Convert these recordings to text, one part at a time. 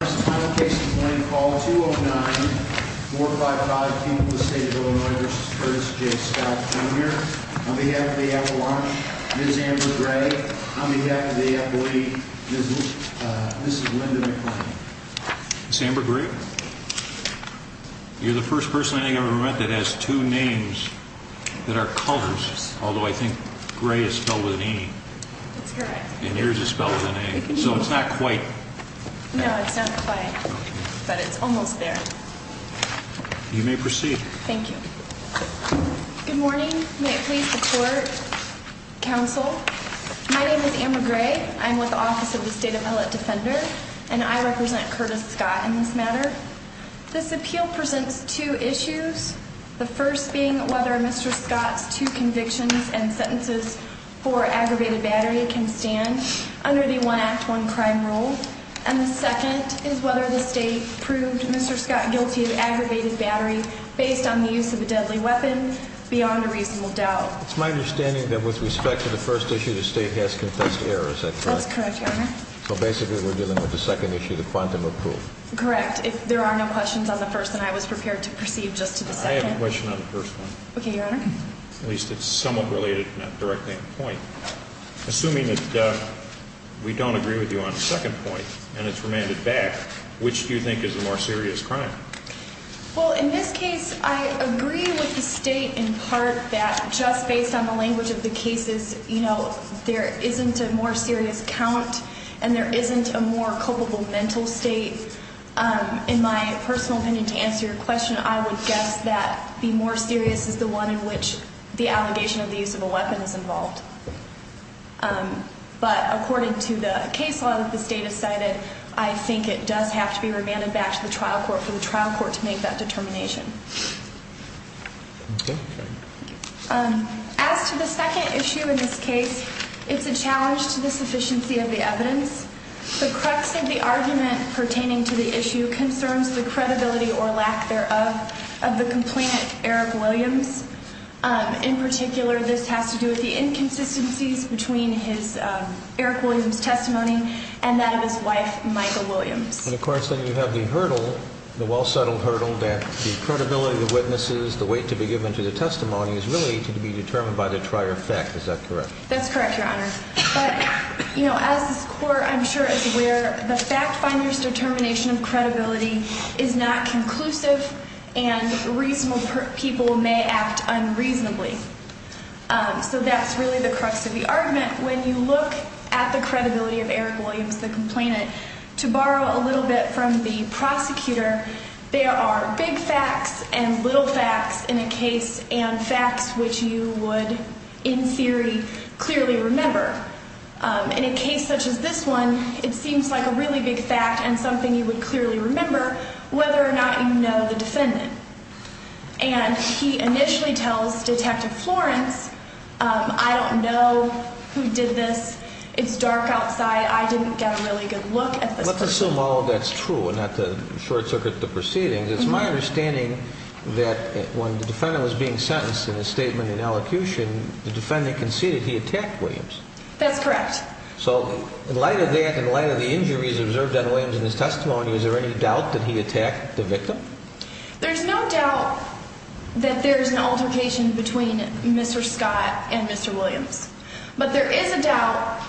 29455, the state of Illinois, v. Curtis J. Scott, Jr. On behalf of the Avalanche, Ms. Amber Gray. On behalf of the Apoiee, Mrs. Linda McClain. Ms. Amber Gray, you're the first person I think I've ever met that has two names that are colors, although I think gray is spelled with an E. That's correct. And yours is spelled with an A, so it's not quite... No, it's not quite, but it's almost there. You may proceed. Thank you. Good morning. May it please the court, counsel. My name is Amber Gray. I'm with the Office of the State Appellate Defender, and I represent Curtis Scott in this matter. This appeal presents two issues, the first being whether Mr. Scott's two convictions and sentences for aggravated battery can stand under the One Act, One Crime rule, and the second is whether the state proved Mr. Scott guilty of aggravated battery based on the use of a deadly weapon beyond a reasonable doubt. It's my understanding that with respect to the first issue, the state has confessed error. Is that correct? That's correct, Your Honor. So basically, we're dealing with the second issue, the quantum of proof. Correct. If there are no questions on the first, then I was prepared to proceed just to the second. I have a question on the first one. Okay, Your Honor. At least it's somewhat related, not directly on point. Assuming that we don't agree with you on the second point, and it's remanded back, which do you think is the more serious crime? Well, in this case, I agree with the state in part that just based on the language of the cases, you know, there isn't a more serious count and there isn't a more culpable mental state. In my personal opinion, to answer your question, I would guess that the more serious is the one in which the allegation of the use of a weapon is involved. But according to the case law that the state has cited, I think it does have to be remanded back to the trial court for the trial court to make that determination. Okay. As to the second issue in this case, it's a challenge to the sufficiency of the evidence. The crux of the argument pertaining to the issue concerns the credibility or lack thereof of the complainant, Eric Williams. In particular, this has to do with the inconsistencies between his, Eric Williams' testimony and that of his wife, Michael Williams. And of course, then you have the hurdle, the well-settled hurdle, that the credibility of the witnesses, the weight to be given to the testimony is really to be determined by the prior fact. Is that correct? That's correct, Your Honor. But, you know, as this Court, I'm sure is aware, the fact finder's determination of reasonable people may act unreasonably. So that's really the crux of the argument. When you look at the credibility of Eric Williams, the complainant, to borrow a little bit from the prosecutor, there are big facts and little facts in a case and facts which you would in theory clearly remember. In a case such as this one, it seems like a really big fact and something you would And he initially tells Detective Florence, I don't know who did this. It's dark outside. I didn't get a really good look at this person. Let's assume all of that's true and not to short-circuit the proceedings. It's my understanding that when the defendant was being sentenced in his statement in elocution, the defendant conceded he attacked Williams. That's correct. So in light of that, in light of the injuries observed on Williams in his testimony, is there any doubt that he attacked the victim? There's no doubt that there's an altercation between Mr. Scott and Mr. Williams. But there is a doubt,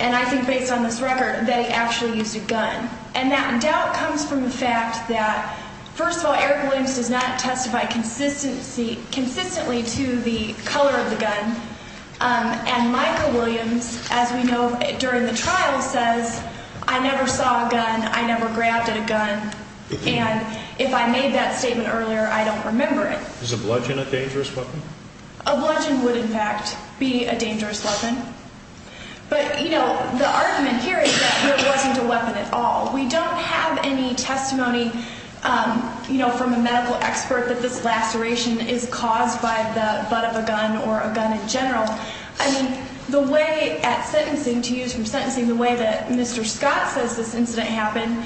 and I think based on this record, that he actually used a gun. And that doubt comes from the fact that, first of all, Eric Williams does not testify consistently to the color of the gun. And Michael Williams, as we know, during the trial says, I never saw a gun. I never grabbed a gun. And if I made that statement earlier, I don't remember it. Is a bludgeon a dangerous weapon? A bludgeon would, in fact, be a dangerous weapon. But, you know, the argument here is that it wasn't a weapon at all. We don't have any testimony, you know, from a medical expert that this laceration is caused by the butt of a gun or a gun in general. I mean, the way at sentencing, to use from sentencing, the way that Mr. Scott says this incident happened,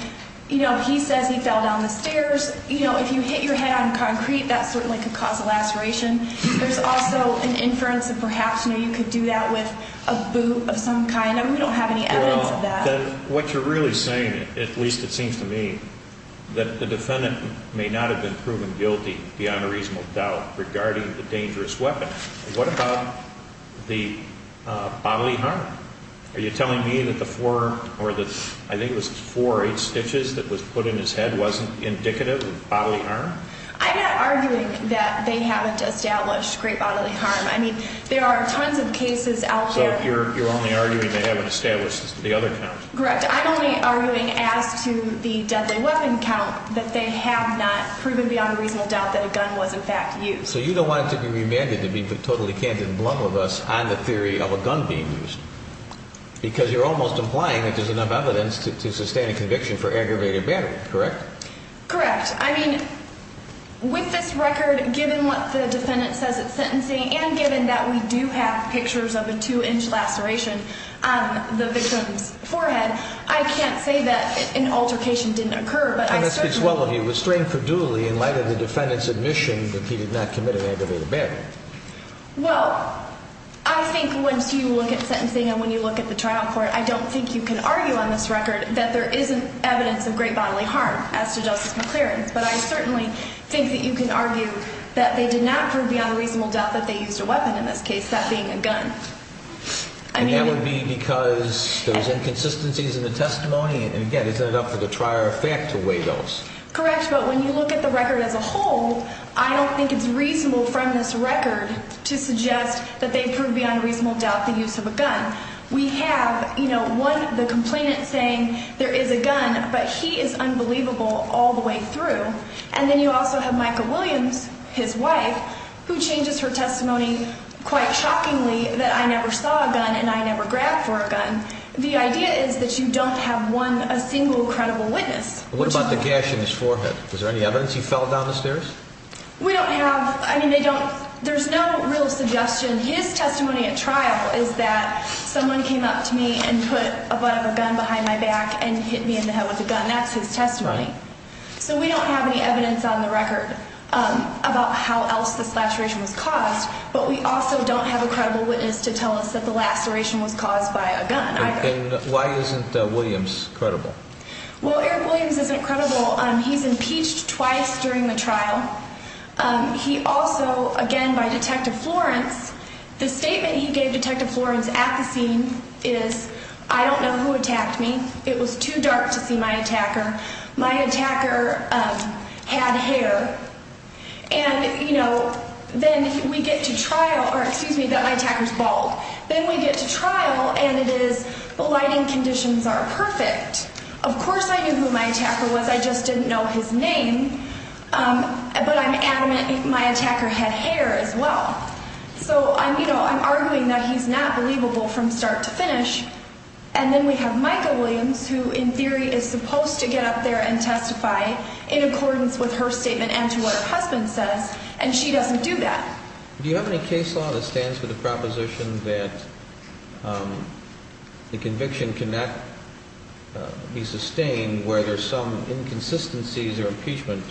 you know, he says he fell down the stairs. You know, if you hit your head on concrete, that certainly could cause a laceration. There's also an inference that perhaps, you know, you could do that with a boot of some kind. I mean, we don't have any evidence of that. Well, then what you're really saying, at least it seems to me, that the defendant may not have been proven guilty beyond a reasonable doubt regarding the dangerous weapon. What about the bodily harm? Are you telling me that the four or the, I think it was four or eight stitches that was put in his head wasn't indicative of bodily harm? I'm not arguing that they haven't established great bodily harm. I mean, there are tons of cases out there. So you're only arguing they haven't established the other count. Correct. I'm only arguing as to the deadly weapon count, that they have not proven beyond a reasonable doubt that a gun was in fact used. So you don't want it to be remanded to be totally candid and blunt with us on the theory of a gun being used. Because you're almost implying that there's enough evidence to sustain a conviction for aggravated battery. Correct? Correct. I mean, with this record, given what the defendant says at sentencing, and given that we do have pictures of a two-inch laceration on the victim's forehead, I can't say that an altercation didn't occur, but I certainly And that speaks well of you. Restraint for duly in light of the defendant's admission that he did not commit an aggravated battery. Well, I think once you look at sentencing and when you look at the trial court, I don't think you can argue on this record that there isn't evidence of great bodily harm as to justiceful clearance. But I certainly think that you can argue that they did not prove beyond a reasonable doubt that they used a weapon in this case, that being a gun. And that would be because there was inconsistencies in the testimony? And again, isn't it up to the trier of fact to weigh those? Correct, but when you look at the record as a whole, I don't think it's reasonable from this record to suggest that they proved beyond a reasonable doubt the use of a gun. We have, you know, one, the complainant saying there is a gun, but he is unbelievable all the way through. And then you also have Michael Williams, his wife, who changes her testimony quite shockingly that I never saw a gun and I never grabbed for a gun. The idea is that you don't have one, a single credible witness. What about the gash in his forehead? Was there any evidence he fell down the stairs? We don't have, I mean, they don't, there's no real suggestion. His testimony at trial is that someone came up to me and put a gun behind my back and hit me in the head with a gun. That's his testimony. So we don't have any evidence on the record about how else this laceration was caused, but we also don't have a credible witness to tell us that the laceration was caused by a gun either. And why isn't Williams credible? Well, Eric Williams isn't credible. He's impeached twice during the trial. He also, again, by Detective Florence, the statement he gave Detective Florence at the scene is, I don't know who attacked me. It was too dark to see my attacker. My attacker had hair. And, you know, then we get to trial, or excuse me, that my attacker's bald. Then we get to trial and it is, the lighting conditions are perfect. Of course I knew who my attacker was, I just didn't know his name. But I'm adamant my attacker had hair as well. So, you know, I'm arguing that he's not believable from start to finish. And then we have Micah Williams, who in theory is supposed to get up there and testify in accordance with her statement and to what her husband says, and she doesn't do that. Do you have any case law that stands for the proposition that the conviction cannot be sustained where there's some inconsistencies or impeachment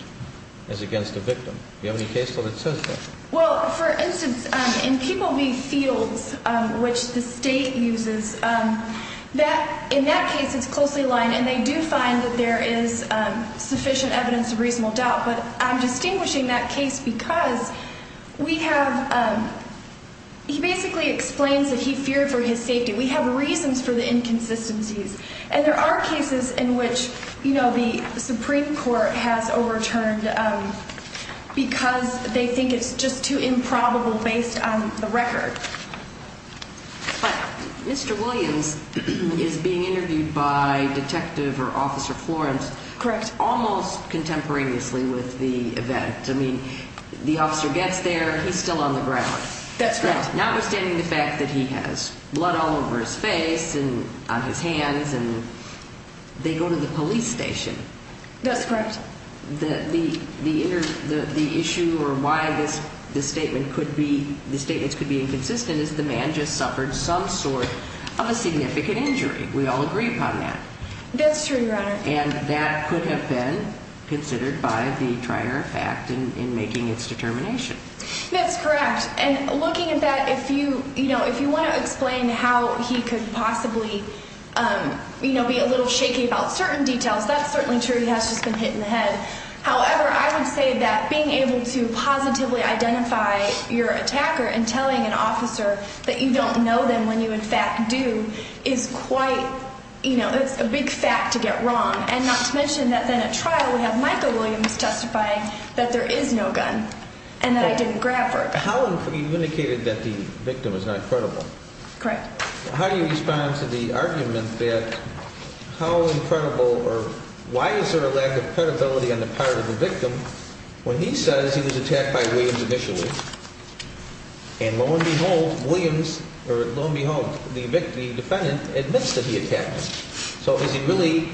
as against the victim? Do you have any case law that says that? Well, for instance, in People v. Fields, which the state uses, in that case it's closely aligned and they do find that there is sufficient evidence of reasonable doubt. But I'm distinguishing that case because we have, he basically explains that he feared for his safety. We have reasons for the inconsistencies. And there are cases in which, you know, the Supreme Court has overturned because they think it's just too improbable based on the record. But Mr. Williams is being interviewed by Detective or Officer Florence. Correct. Almost contemporaneously with the event. I mean, the officer gets there, he's still on the ground. That's correct. Notwithstanding the fact that he has blood all over his face and on his hands, and they go to the police station. That's correct. The issue or why this statement could be inconsistent is the man just suffered some sort of a significant injury. We all agree upon that. That's true, Your Honor. And that could have been considered by the trier fact in making its determination. That's correct. And looking at that, if you want to explain how he could possibly be a little shaky about certain details, that's certainly true. He has just been hit in the head. However, I would say that being able to positively identify your attacker and telling an officer that you don't know them when you in fact do is quite, you know, it's a big fact to get wrong. And not to mention that then at trial we have Michael Williams testifying that there is no gun and that I didn't grab her gun. Now, you've indicated that the victim is not credible. Correct. How do you respond to the argument that how incredible or why is there a lack of credibility on the part of the victim when he says he was attacked by Williams initially and lo and behold, the defendant admits that he attacked him? So is he really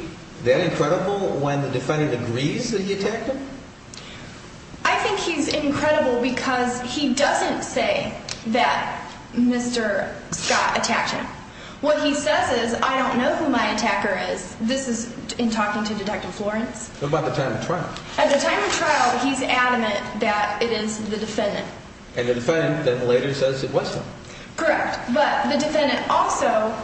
that incredible when the defendant agrees that he attacked him? I think he's incredible because he doesn't say that Mr. Scott attacked him. What he says is, I don't know who my attacker is. This is in talking to Detective Florence. What about the time of trial? At the time of trial, he's adamant that it is the defendant. And the defendant then later says it was him. Correct. But the defendant also,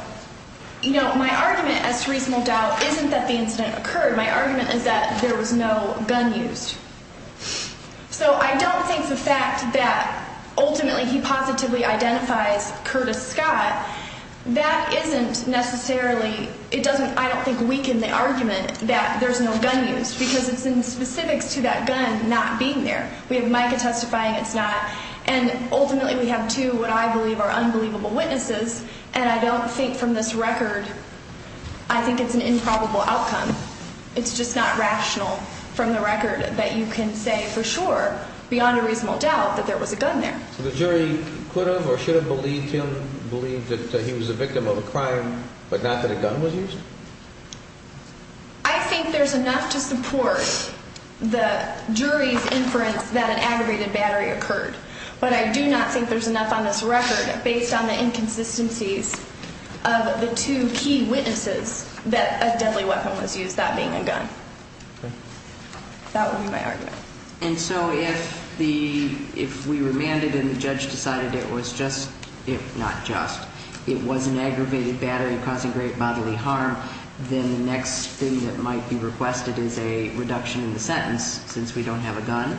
you know, my argument as to reasonable doubt isn't that the incident occurred. My argument is that there was no gun used. So I don't think the fact that ultimately he positively identifies Curtis Scott, that isn't necessarily, it doesn't, I don't think weaken the argument that there's no gun used because it's in specifics to that gun not being there. We have Micah testifying it's not. And ultimately we have two what I believe are unbelievable witnesses, and I don't think from this record, I think it's an improbable outcome. It's just not rational from the record that you can say for sure beyond a reasonable doubt that there was a gun there. So the jury could have or should have believed him, believed that he was a victim of a crime, but not that a gun was used? I think there's enough to support the jury's inference that an aggravated battery occurred. But I do not think there's enough on this record based on the inconsistencies of the two key witnesses that a deadly weapon was used, that being a gun. That would be my argument. And so if we remanded and the judge decided it was just, if not just, it was an aggravated battery causing great bodily harm, then the next thing that might be requested is a reduction in the sentence since we don't have a gun?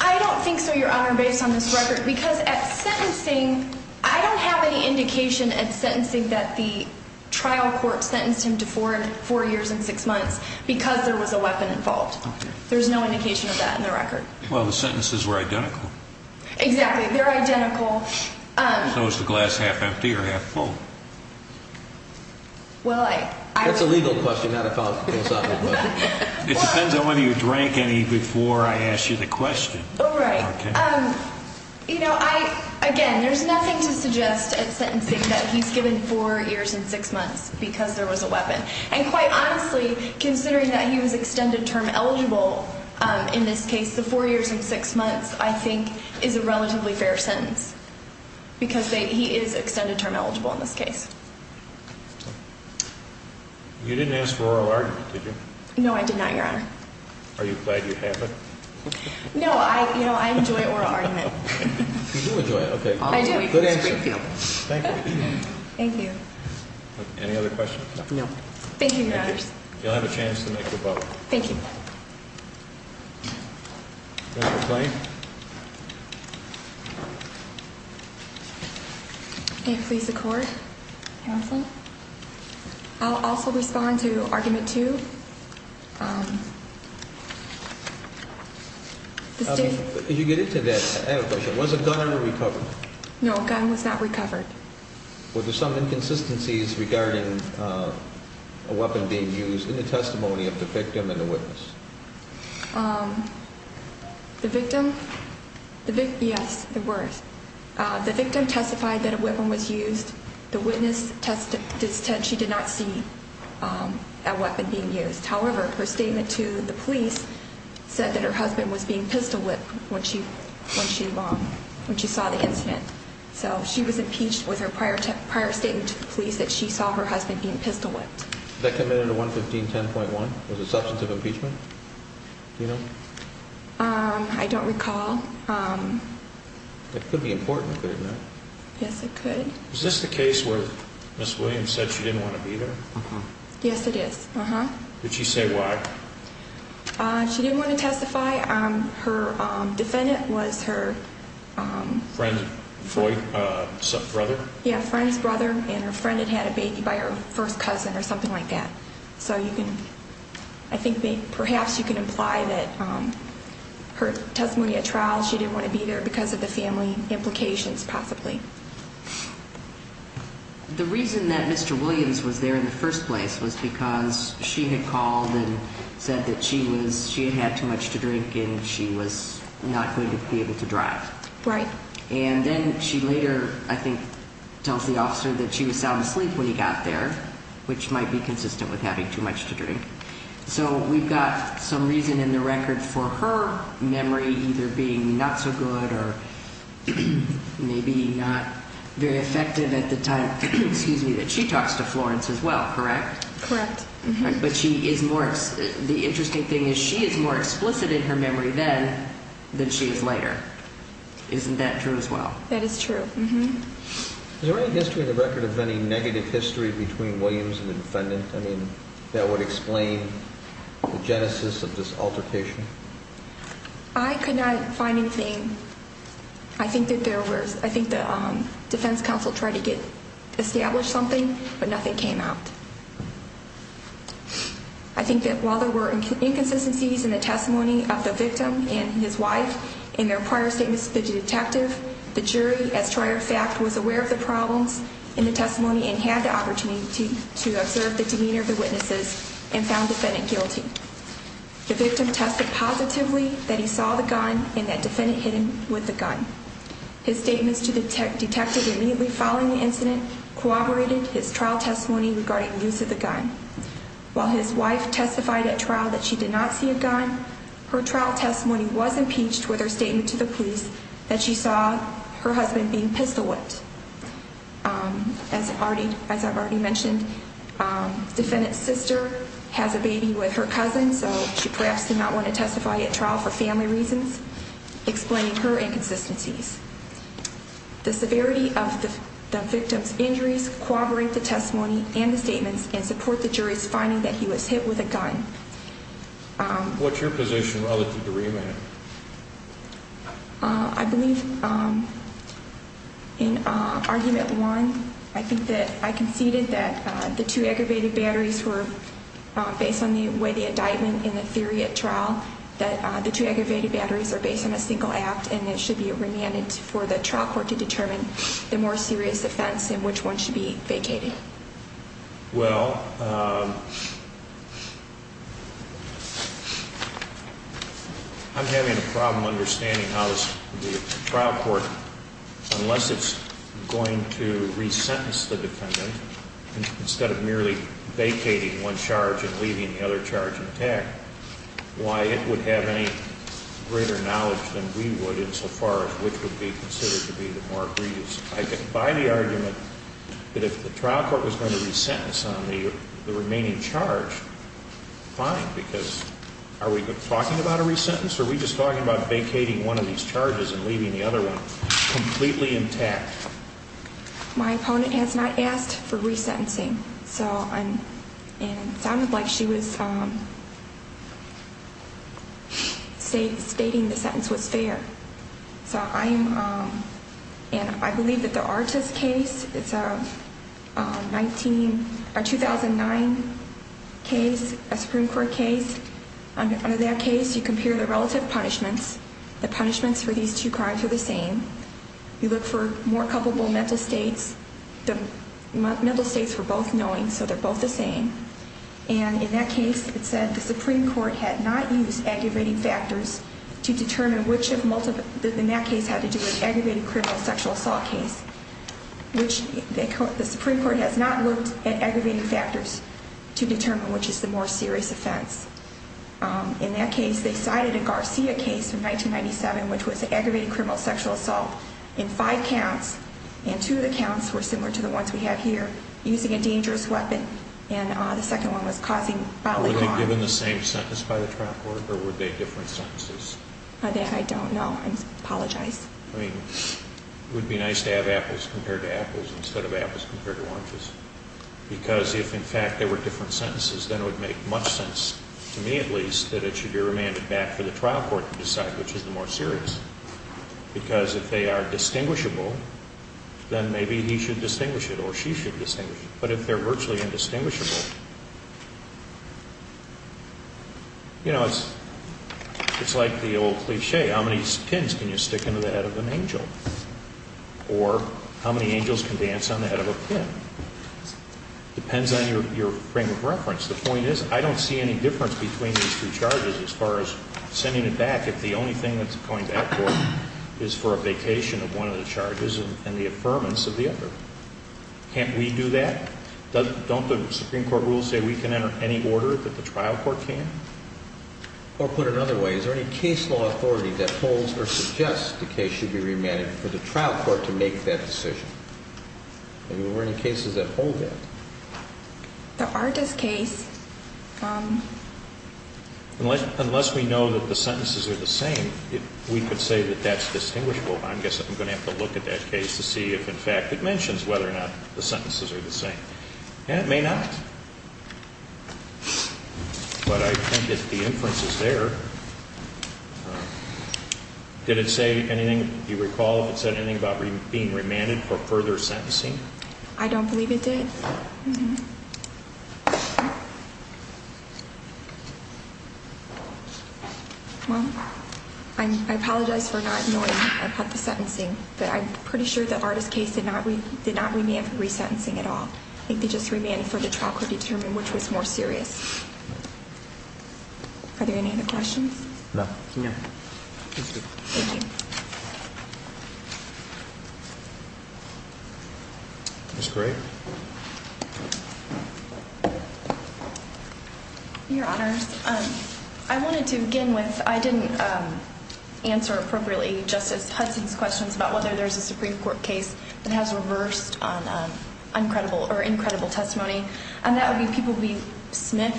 I don't think so, Your Honor, based on this record, because at sentencing I don't have any indication at sentencing that the trial court sentenced him to four years and six months because there was a weapon involved. There's no indication of that in the record. Well, the sentences were identical. Exactly. They're identical. So is the glass half empty or half full? Well, I... That's a legal question, not a philosophical question. It depends on whether you drank any before I ask you the question. Oh, right. Okay. You know, I, again, there's nothing to suggest at sentencing that he's given four years and six months because there was a weapon. And quite honestly, considering that he was extended term eligible in this case, the four years and six months I think is a relatively fair sentence because he is extended term eligible in this case. You didn't ask for oral argument, did you? No, I did not, Your Honor. Are you glad you have it? No. You know, I enjoy oral argument. You do enjoy it. Okay. I do. Good answer. Thank you. Thank you. Any other questions? No. Thank you, Your Honors. You'll have a chance to make your vote. Thank you. Mr. Kline. May it please the Court, Your Honor? I'll also respond to argument two. Did you get into that, was a gun recovered? No, a gun was not recovered. Were there some inconsistencies regarding a weapon being used in the testimony of the victim and the witness? The victim? Yes, there were. The victim testified that a weapon was used. The witness testified she did not see a weapon being used. However, her statement to the police said that her husband was being pistol whipped when she saw the incident. So she was impeached with her prior statement to the police that she saw her husband being pistol whipped. Was that committed under 11510.1? Was it substantive impeachment? Do you know? I don't recall. It could be important, couldn't it? Yes, it could. Is this the case where Ms. Williams said she didn't want to be there? Yes, it is. Did she say why? She didn't want to testify. Her defendant was her friend's brother and her friend had had a baby by her first cousin or something like that. So I think perhaps you can imply that her testimony at trial, she didn't want to be there because of the family implications possibly. The reason that Mr. Williams was there in the first place was because she had called and said that she had had too much to drink and she was not going to be able to drive. Right. And then she later, I think, tells the officer that she was sound asleep when he got there, which might be consistent with having too much to drink. So we've got some reason in the record for her memory either being not so good or maybe not very effective at the time that she talks to Florence as well, correct? Correct. But the interesting thing is she is more explicit in her memory then than she is later. Isn't that true as well? That is true. Is there any history in the record of any negative history between Williams and the defendant? I mean, that would explain the genesis of this altercation. I could not find anything. I think the defense counsel tried to establish something, but nothing came out. I think that while there were inconsistencies in the testimony of the victim and his wife in their prior statements to the detective, the jury, as prior fact, was aware of the problems in the testimony and had the opportunity to observe the demeanor of the witnesses and found the defendant guilty. The victim tested positively that he saw the gun and that defendant hit him with the gun. His statements to the detective immediately following the incident corroborated his trial testimony regarding use of the gun. While his wife testified at trial that she did not see a gun, her trial testimony was impeached with her statement to the police that she saw her husband being pistol whipped. As I've already mentioned, defendant's sister has a baby with her cousin, so she perhaps did not want to testify at trial for family reasons, explaining her inconsistencies. The severity of the victim's injuries corroborate the testimony and the statements and support the jury's finding that he was hit with a gun. What's your position relative to remand? I believe in argument one, I think that I conceded that the two aggravated batteries were based on the way the indictment in the theory at trial, that the two aggravated batteries are based on a single act and it should be remanded for the trial court to determine the more serious offense and which one should be vacated. Well, I'm having a problem understanding how the trial court, unless it's going to resentence the defendant, instead of merely vacating one charge and leaving the other charge intact, why it would have any greater knowledge than we would insofar as which would be considered to be the more grievous. I get by the argument that if the trial court was going to resentence on the remaining charge, fine, because are we talking about a resentence or are we just talking about vacating one of these charges and leaving the other one completely intact? My opponent has not asked for resentencing, so it sounded like she was stating the sentence was fair. So I believe that the Artis case, it's a 2009 case, a Supreme Court case. Under that case, you compare the relative punishments. The punishments for these two crimes are the same. You look for more culpable mental states. The mental states were both knowing, so they're both the same. And in that case, it said the Supreme Court had not used aggravating factors to determine which of multiple, in that case had to do with aggravated criminal sexual assault case, which the Supreme Court has not looked at aggravating factors to determine which is the more serious offense. In that case, they cited a Garcia case from 1997, which was aggravated criminal sexual assault in five counts, and two of the counts were similar to the ones we have here, using a dangerous weapon, and the second one was causing bodily harm. Were they given the same sentence by the trial court, or were they different sentences? I don't know. I apologize. I mean, it would be nice to have apples compared to apples instead of apples compared to oranges. Because if, in fact, they were different sentences, then it would make much sense, to me at least, that it should be remanded back for the trial court to decide which is the more serious. Because if they are distinguishable, then maybe he should distinguish it or she should distinguish it. But if they're virtually indistinguishable, you know, it's like the old cliche, how many pins can you stick into the head of an angel? Or how many angels can dance on the head of a pin? Depends on your frame of reference. The point is, I don't see any difference between these two charges as far as sending it back if the only thing that's going back to court is for a vacation of one of the charges and the affirmance of the other. Can't we do that? Don't the Supreme Court rules say we can enter any order that the trial court can? Or put it another way, is there any case law authority that holds or suggests the case should be remanded for the trial court to make that decision? I mean, were there any cases that hold that? The Ardis case... Unless we know that the sentences are the same, we could say that that's distinguishable. I guess I'm going to have to look at that case to see if, in fact, it mentions whether or not the sentences are the same. And it may not. But I think that the inference is there. Did it say anything? Do you recall if it said anything about being remanded for further sentencing? I don't believe it did. Well, I apologize for not knowing about the sentencing. But I'm pretty sure the Ardis case did not remand for resentencing at all. I think they just remanded for the trial court to determine which was more serious. Are there any other questions? No. Thank you. Ms. Gray? Your Honor, I wanted to begin with I didn't answer appropriately Justice Hudson's questions about whether there's a Supreme Court case that has reversed on incredible or incredible testimony. And that would be P. B. Smith.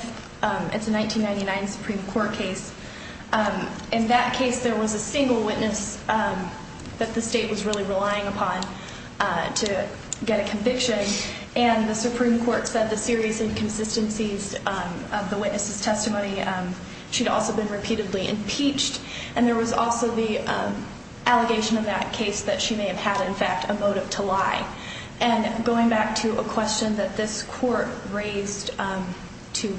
It's a 1999 Supreme Court case. In that case, there was a single witness that the state was really relying upon to get a conviction. And the Supreme Court said the serious inconsistencies of the witness's testimony. She'd also been repeatedly impeached. And there was also the allegation in that case that she may have had, in fact, a motive to lie. And going back to a question that this court raised to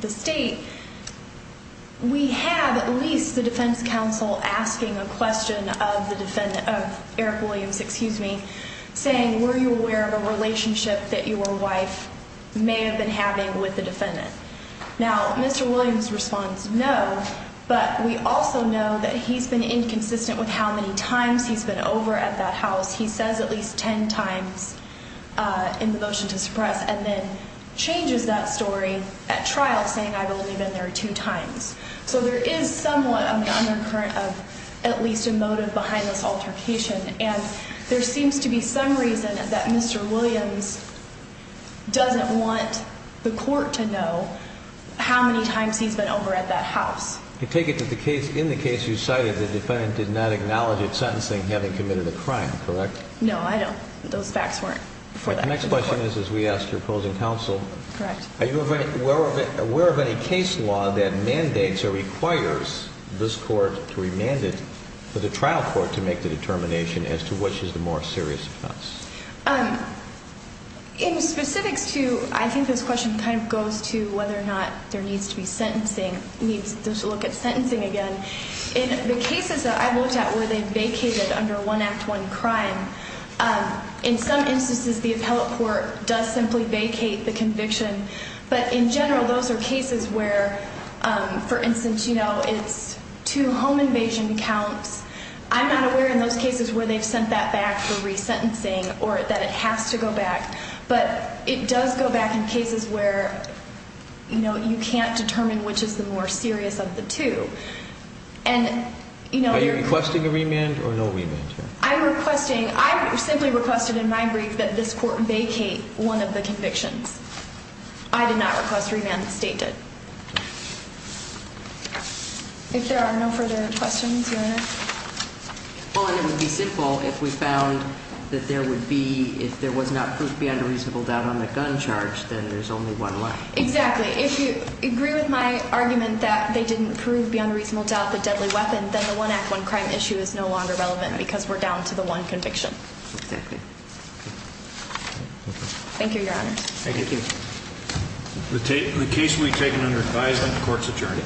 the state, we have at least the defense counsel asking a question of Eric Williams, excuse me, saying were you aware of a relationship that your wife may have been having with the defendant? Now, Mr. Williams responds no. But we also know that he's been inconsistent with how many times he's been over at that house. He says at least 10 times in the motion to suppress and then changes that story at trial saying I've only been there two times. So there is somewhat of an undercurrent of at least a motive behind this altercation. And there seems to be some reason that Mr. Williams doesn't want the court to know how many times he's been over at that house. I take it that in the case you cited, the defendant did not acknowledge his sentencing having committed a crime, correct? No, I don't. Those facts weren't before that court. The next question is, as we asked your opposing counsel, are you aware of any case law that mandates or requires this court to remand it for the trial court to make the determination as to which is the more serious offense? In specifics to, I think this question kind of goes to whether or not there needs to be sentencing, needs to look at sentencing again. In the cases that I looked at where they vacated under one act, one crime, in some instances the appellate court does simply vacate the conviction. But in general, those are cases where, for instance, you know, it's two home invasion counts. I'm not aware in those cases where they've sent that back for resentencing or that it has to go back. But it does go back in cases where, you know, you can't determine which is the more serious of the two. Are you requesting a remand or no remand? I'm requesting, I simply requested in my brief that this court vacate one of the convictions. I did not request remand. The state did. If there are no further questions, Your Honor. Well, and it would be simple if we found that there would be, if there was not proved beyond a reasonable doubt on the gun charge, then there's only one life. Exactly. If you agree with my argument that they didn't prove beyond a reasonable doubt the deadly weapon, then the one act, one crime issue is no longer relevant because we're down to the one conviction. Exactly. Thank you, Your Honors. Thank you. The case will be taken under advisement of the court's attorney.